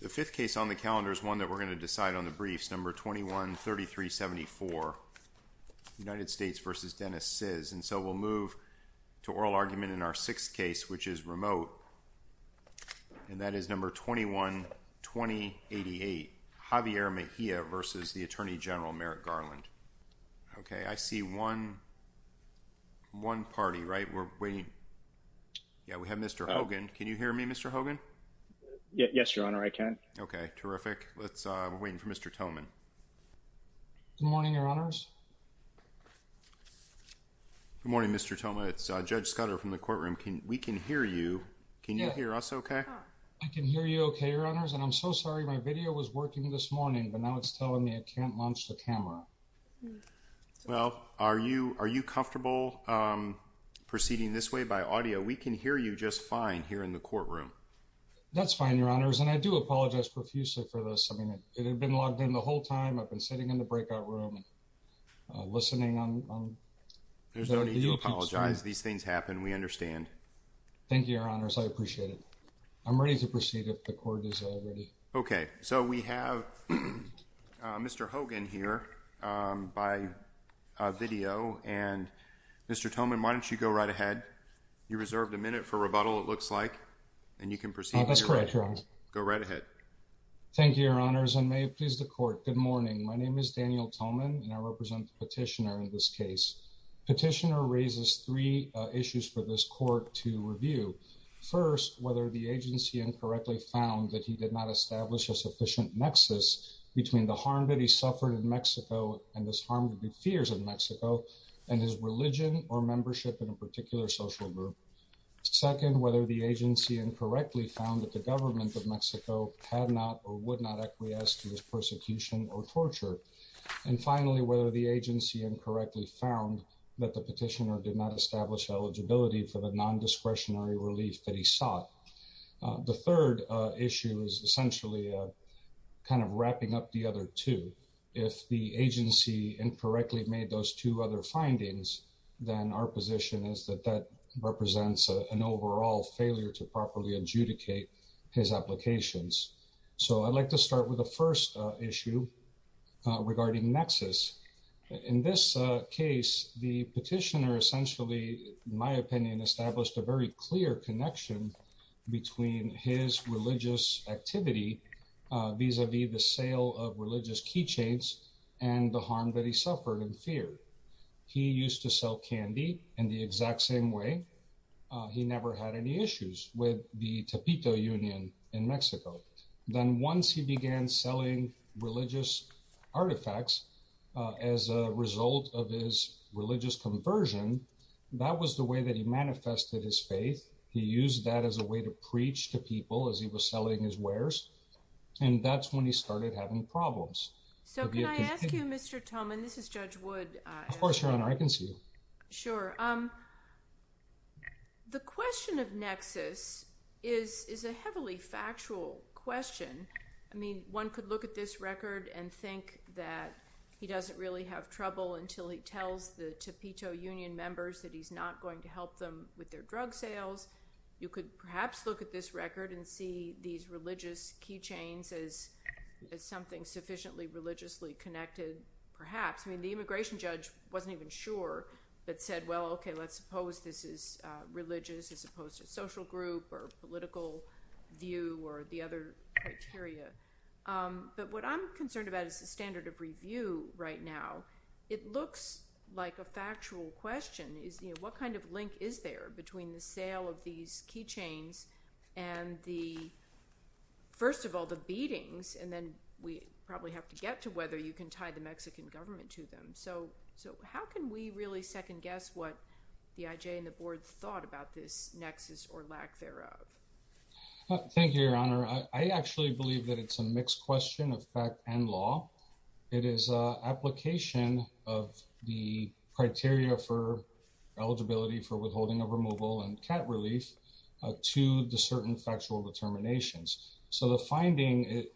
The fifth case on the calendar is one that we're going to decide on the briefs. Number 21-33-74, United States v. Dennis Sizz. And so we'll move to oral argument in our sixth case, which is remote. And that is number 21-20-88, Javier Mejia v. the Attorney General Merrick Garland. OK, I see one, one party, right? We're waiting. Yeah, we have Mr. Hogan. Can you hear me, Mr. Hogan? Yes, Your Honor, I can. OK, terrific. Let's wait for Mr. Thoman. Good morning, Your Honors. Good morning, Mr. Thoman. It's Judge Scudder from the courtroom. Can we can hear you? Can you hear us OK? I can hear you OK, Your Honors. And I'm so sorry my video was working this morning, but now it's telling me I can't launch the camera. Well, are you are you comfortable proceeding this way by audio? We can hear you just fine here in the courtroom. That's fine, Your Honors. And I do apologize profusely for this. I mean, it had been logged in the whole time. I've been sitting in the breakout room listening on. There's no need to apologize. These things happen. We understand. Thank you, Your Honors. I appreciate it. I'm ready to proceed if the court is all ready. OK, so we have Mr. Hogan here by video. And Mr. Thoman, why don't you go right ahead? You reserved a minute for rebuttal, it looks like. And you can proceed. That's correct. Go right ahead. Thank you, Your Honors. And may it please the court. Good morning. My name is Daniel Thoman, and I represent the petitioner in this case. Petitioner raises three issues for this court to review. First, whether the agency incorrectly found that he did not establish a sufficient nexus between the harm that he suffered in Mexico and this harm to the fears of Mexico and his religion or membership in a particular social group. Second, whether the agency incorrectly found that the government of Mexico had not or would not acquiesce to his persecution or torture. And finally, whether the agency incorrectly found that the petitioner did not establish eligibility for the non-discretionary relief that he sought. The third issue is essentially kind of wrapping up the other two. If the agency incorrectly made those two other findings, then our position is that that represents an overall failure to properly adjudicate his applications. So I'd like to start with the first issue regarding nexus. In this case, the petitioner essentially, in my opinion, established a very clear connection between his religious activity vis-a-vis the sale of religious keychains and the harm that he suffered and feared. He used to sell candy in the exact same way. He never had any issues with the Tapito Union in Mexico. Then once he began selling religious artifacts as a result of his religious conversion, that was the way that he manifested his faith. He used that as a way to preach to people as he was selling his wares. And that's when he started having problems. So can I ask you, Mr. Tolman, this is Judge Wood. Of course, Your Honor, I can see you. Sure. The question of nexus is a heavily factual question. I mean, one could look at this record and think that he doesn't really have trouble until he tells the Tapito Union members that he's not going to help them with their drug sales. You could perhaps look at this record and see these religious keychains as something sufficiently religiously connected, perhaps. I mean, the immigration judge wasn't even sure, but said, well, OK, let's suppose this is religious as opposed to social group or political view or the other criteria. But what I'm concerned about is the standard of review right now. It looks like a factual question is, you know, what kind of link is there between the sale of these keychains and the, first of all, the beatings? And then we probably have to get to whether you can tie the Mexican government to them. So how can we really second guess what the IJ and the board thought about this nexus or lack thereof? Thank you, Your Honor. I actually believe that it's a mixed question of fact and law. It is an application of the criteria for eligibility for withholding of removal and cat relief to the certain factual determinations. So the finding,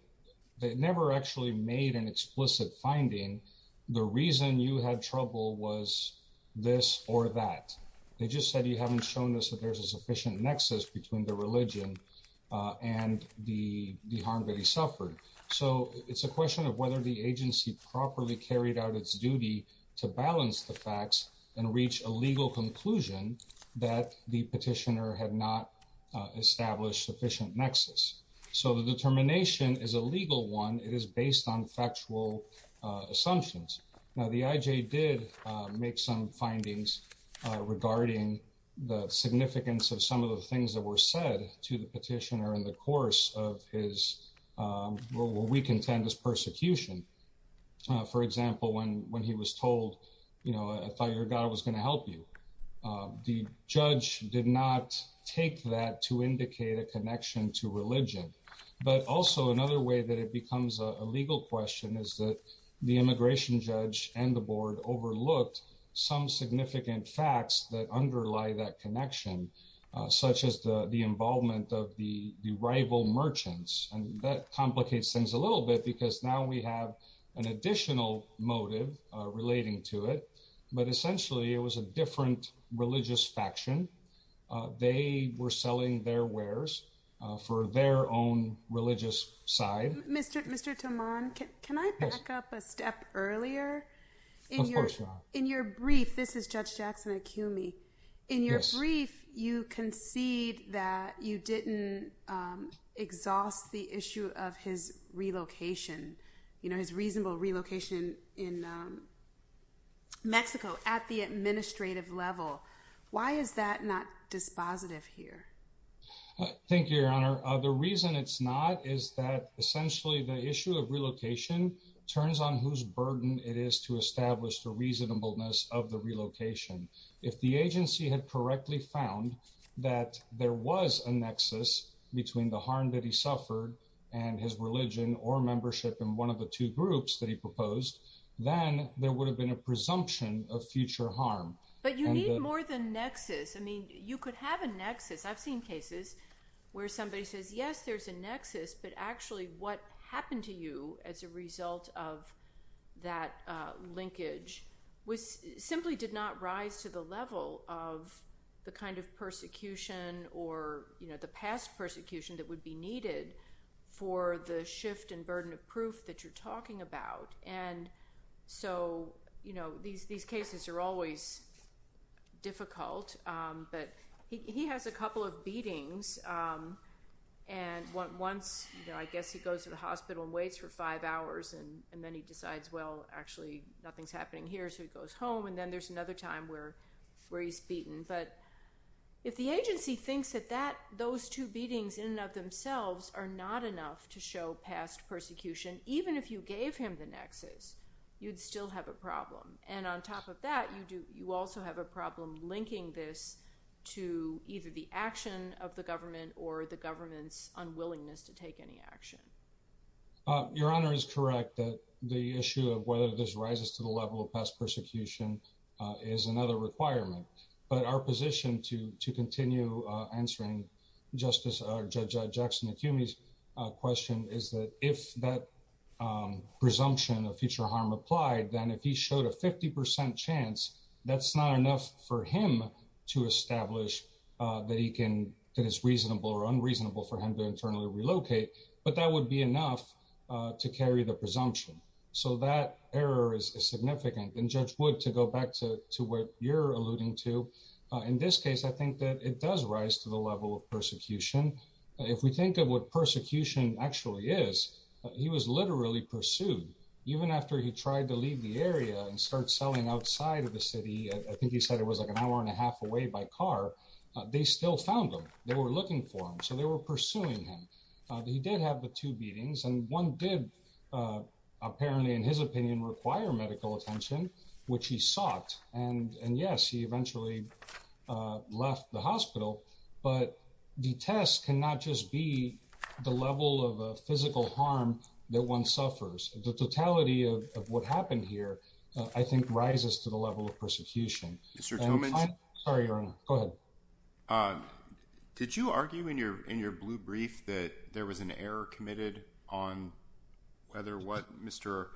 they never actually made an explicit finding. The reason you had trouble was this or that. They just said you haven't shown us that there's a sufficient nexus between the religion and the harm that he suffered. So it's a question of whether the agency properly carried out its duty to balance the facts and reach a legal conclusion that the petitioner had not established sufficient nexus. So the determination is a legal one. It is based on factual assumptions. Now, the IJ did make some findings regarding the significance of some of the things that were said to the petitioner in the course of his, what we contend as persecution. For example, when he was told, you know, I thought your God was going to help you. The judge did not take that to indicate a connection to religion. But also another way that it becomes a legal question is that the immigration judge and the board overlooked some significant facts that underlie that connection, such as the involvement of the rival merchants. And that complicates things a little bit because now we have an additional motive relating to it. But essentially it was a different religious faction. They were selling their wares for their own religious side. Mr. Mr. Toman, can I back up a step earlier? In your brief, this is Judge Jackson Acumi. In your brief, you concede that you didn't exhaust the issue of his relocation, you know, his reasonable relocation in Mexico at the administrative level. Why is that not dispositive here? Thank you, Your Honor. The reason it's not is that essentially the issue of relocation turns on whose burden it is to establish the reasonableness of the relocation. If the agency had correctly found that there was a nexus between the harm that he suffered and his religion or membership in one of the two groups that he proposed, then there would have been a presumption of future harm. But you need more than nexus. I mean, you could have a nexus. I've seen cases where somebody says, yes, there's a nexus. But actually, what happened to you as a result of that linkage was simply did not rise to the level of the kind of persecution or, you know, the past persecution that would be needed for the shift and burden of proof that you're talking about. And so, you know, these cases are always difficult. But he has a couple of beatings. And once, you know, I guess he goes to the hospital and waits for five hours and then he decides, well, actually nothing's happening here. So he goes home and then there's another time where he's beaten. But if the agency thinks that those two beatings in and of themselves are not enough to show past persecution, even if you gave him the nexus, you'd still have a problem. And on top of that, you do you also have a problem linking this to either the action of the government or the government's unwillingness to take any action. Your Honor is correct that the issue of whether this rises to the level of past persecution is another requirement. But our position to to continue answering Justice or Judge Jackson Acumi's question is that if that presumption of future harm applied, then if he showed a 50 percent chance, that's not enough for him to establish that he can that is reasonable or unreasonable for him to internally relocate. But that would be enough to carry the presumption. So that error is significant. And Judge Wood, to go back to to what you're alluding to in this case, I think that it does rise to the level of persecution. If we think of what persecution actually is, he was literally pursued even after he tried to leave the area and start selling outside of the city. I think he said it was like an hour and a half away by car. They still found them. They were looking for him. So they were pursuing him. He did have the two beatings and one did apparently, in his opinion, require medical attention, which he sought. And yes, he eventually left the hospital. But the test cannot just be the level of physical harm that one suffers. The totality of what happened here, I think, rises to the level of persecution. Mr. Toman, I'm sorry. You're in good. Did you argue in your in your blue brief that there was an error committed on whether what Mr.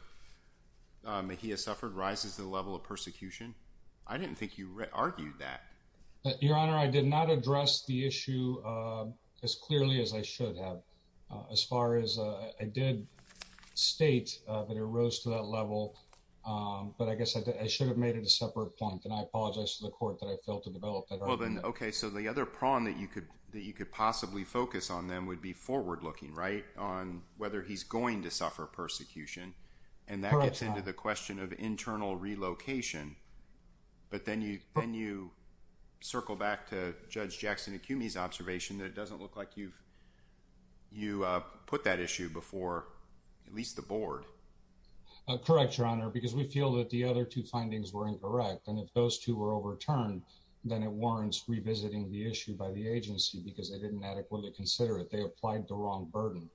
Mejia suffered rises to the level of persecution? I didn't think you argued that. Your Honor, I did not address the issue as clearly as I should have as far as I did state that it rose to that level. But I guess I should have made it a separate point. And I apologize to the court that I failed to develop that argument. OK, so the other prong that you could that you could possibly focus on then would be forward looking, right, on whether he's going to suffer persecution. And that gets into the question of internal relocation. But then you then you circle back to Judge Jackson Acumi's observation that it doesn't look like you've you put that issue before at least the board. Correct, Your Honor, because we feel that the other two findings were incorrect. And if those two were overturned, then it warrants revisiting the issue by the agency because they didn't adequately consider it. They applied the wrong burden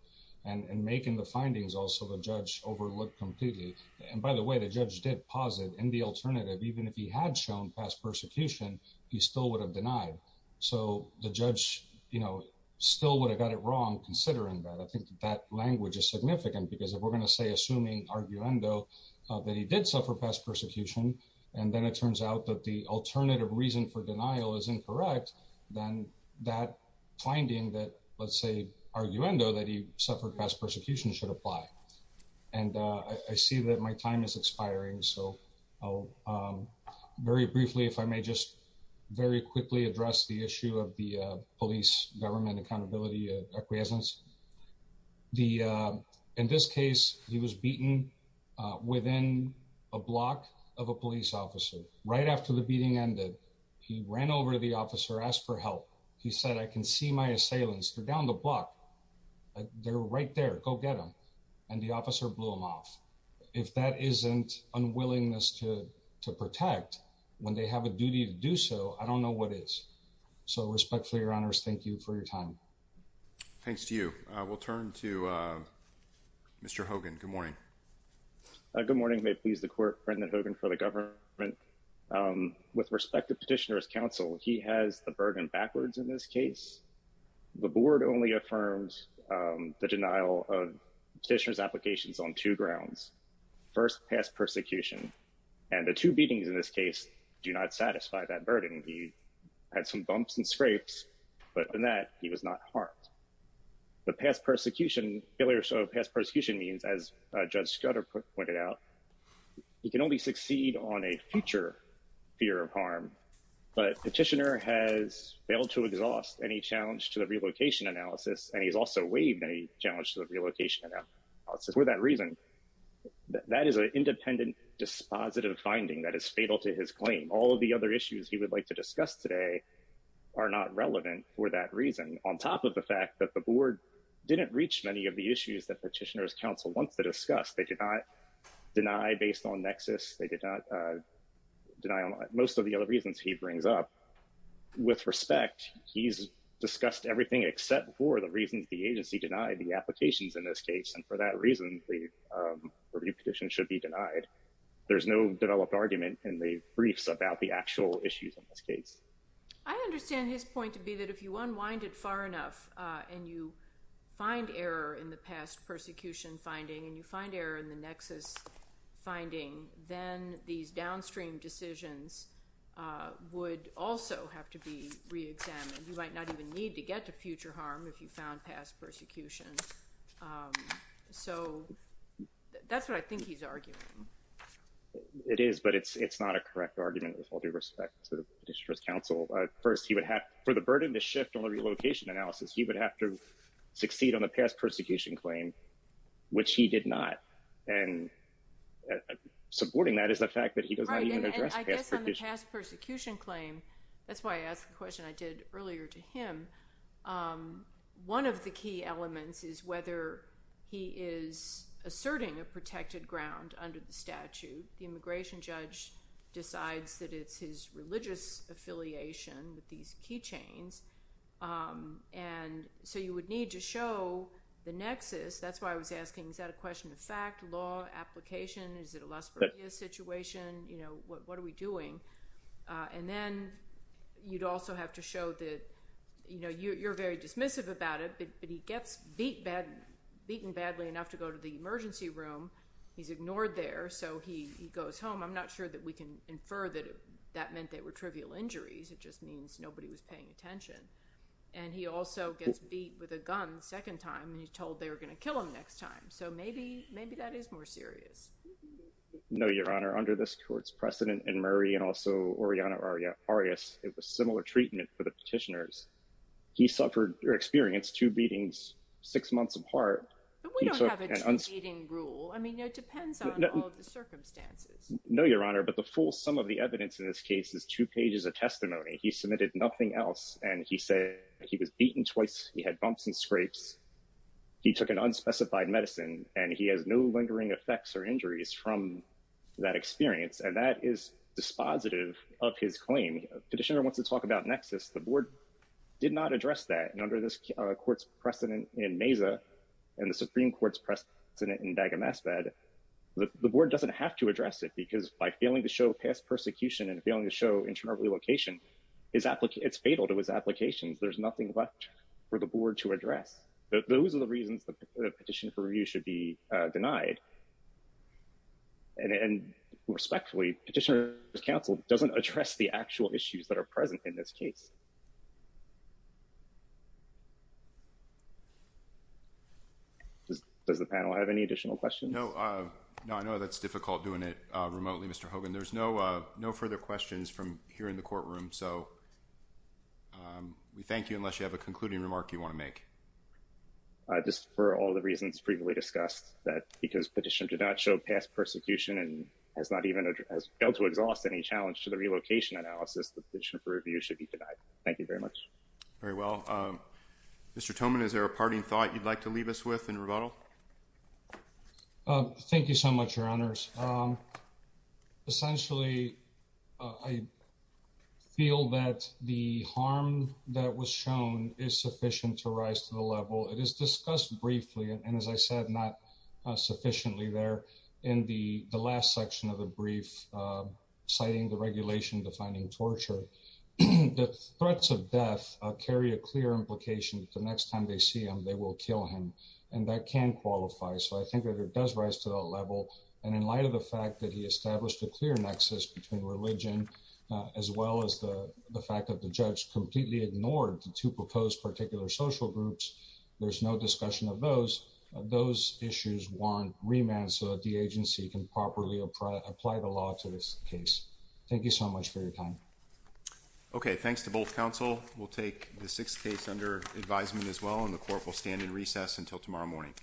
and making the findings also the judge overlooked completely. And by the way, the judge did posit in the alternative, even if he had shown past persecution, he still would have denied. So the judge, you know, still would have got it wrong. Considering that, I think that language is significant because if we're going to say assuming arguendo that he did suffer past persecution and then it turns out that the arguendo that he suffered past persecution should apply. And I see that my time is expiring. So very briefly, if I may just very quickly address the issue of the police government accountability acquiescence. The in this case, he was beaten within a block of a police officer right after the beating ended. He ran over to the officer, asked for help. He said, I can see my assailants. They're down the block. They're right there. Go get them. And the officer blew him off. If that isn't unwillingness to to protect when they have a duty to do so, I don't know what is. So respectfully, your honors, thank you for your time. Thanks to you. We'll turn to Mr. Hogan. Good morning. Good morning. May please the court. Brendan Hogan for the government. With respect to petitioner's counsel, he has the burden backwards in this case. The board only affirms the denial of petitioner's applications on two grounds. First, past persecution and the two beatings in this case do not satisfy that burden. He had some bumps and scrapes, but in that he was not harmed. The past persecution, failure of past persecution means, as Judge Scudder pointed out, he can only succeed on a future fear of harm. But petitioner has failed to exhaust any challenge to the relocation analysis. And he's also waived any challenge to the relocation analysis for that reason. That is an independent, dispositive finding that is fatal to his claim. All of the other issues he would like to discuss today are not relevant for that reason. On top of the fact that the board didn't reach many of the issues that petitioner's counsel wants to discuss, they did not deny based on nexus. They did not deny most of the other reasons he brings up. With respect, he's discussed everything except for the reasons the agency denied the applications in this case. And for that reason, the review petition should be denied. There's no developed argument in the briefs about the actual issues in this case. I understand his point to be that if you unwind it far enough and you find error in the past persecution finding and you find error in the nexus finding, then these downstream decisions would also have to be re-examined. You might not even need to get to future harm if you found past persecution. So that's what I think he's arguing. It is, but it's not a correct argument with all due respect to the petitioner's counsel. First, he would have for the burden to shift on the relocation analysis, he would have to address the past persecution claim, which he did not. And supporting that is the fact that he does not even address past persecution. And I guess on the past persecution claim, that's why I asked the question I did earlier to him. One of the key elements is whether he is asserting a protected ground under the statute. The immigration judge decides that it's his religious affiliation with these key chains. And so you would need to show the nexus. That's why I was asking, is that a question of fact, law, application? Is it a Las Vergas situation? You know, what are we doing? And then you'd also have to show that, you know, you're very dismissive about it, but he gets beaten badly enough to go to the emergency room. He's ignored there. So he goes home. I'm not sure that we can infer that that meant they were trivial injuries. It just means nobody was paying attention. And he also gets beat with a gun the second time and he's told they were going to kill him next time. So maybe, maybe that is more serious. No, Your Honor. Under this court's precedent in Murray and also Oriana Arias, it was similar treatment for the petitioners. He suffered or experienced two beatings, six months apart. But we don't have a two beating rule. I mean, it depends on all of the circumstances. No, Your Honor. But the full sum of the evidence in this case is two pages of testimony. He submitted nothing else. And he said he was beaten twice. He had bumps and scrapes. He took an unspecified medicine and he has no lingering effects or injuries from that experience. And that is dispositive of his claim. Petitioner wants to talk about nexus. The board did not address that under this court's precedent in Mesa and the Supreme Court's precedent in Dagomazbed. The board doesn't have to address it because by failing to show past persecution and failing to show location, it's fatal to his applications. There's nothing left for the board to address. Those are the reasons the petition for review should be denied. And respectfully, Petitioner's counsel doesn't address the actual issues that are present in this case. Does the panel have any additional questions? No. No, I know that's difficult doing it remotely, Mr. Hogan. There's no further questions from here in the courtroom. So we thank you unless you have a concluding remark you want to make. Just for all the reasons previously discussed, that because petition did not show past persecution and has not even dealt to exhaust any challenge to the relocation analysis, the petition for review should be denied. Thank you very much. Very well. Mr. Toman, is there a parting thought you'd like to leave us with in rebuttal? Thank you so much, Your Honors. Essentially, I feel that the harm that was shown is sufficient to rise to the level. It is discussed briefly, and as I said, not sufficiently there in the last section of the brief citing the regulation defining torture. The threats of death carry a clear implication that the next time they see him, they will kill him. And that can qualify. So I think that it does rise to that level. And in light of the fact that he established a clear nexus between religion as well as the fact that the judge completely ignored the two proposed particular social groups, there's no discussion of those. Those issues warrant remand so that the agency can properly apply the law to this case. Thank you so much for your time. Okay. Thanks to both counsel. We'll take the sixth case under advisement as well, and the court will stand in recess until tomorrow morning.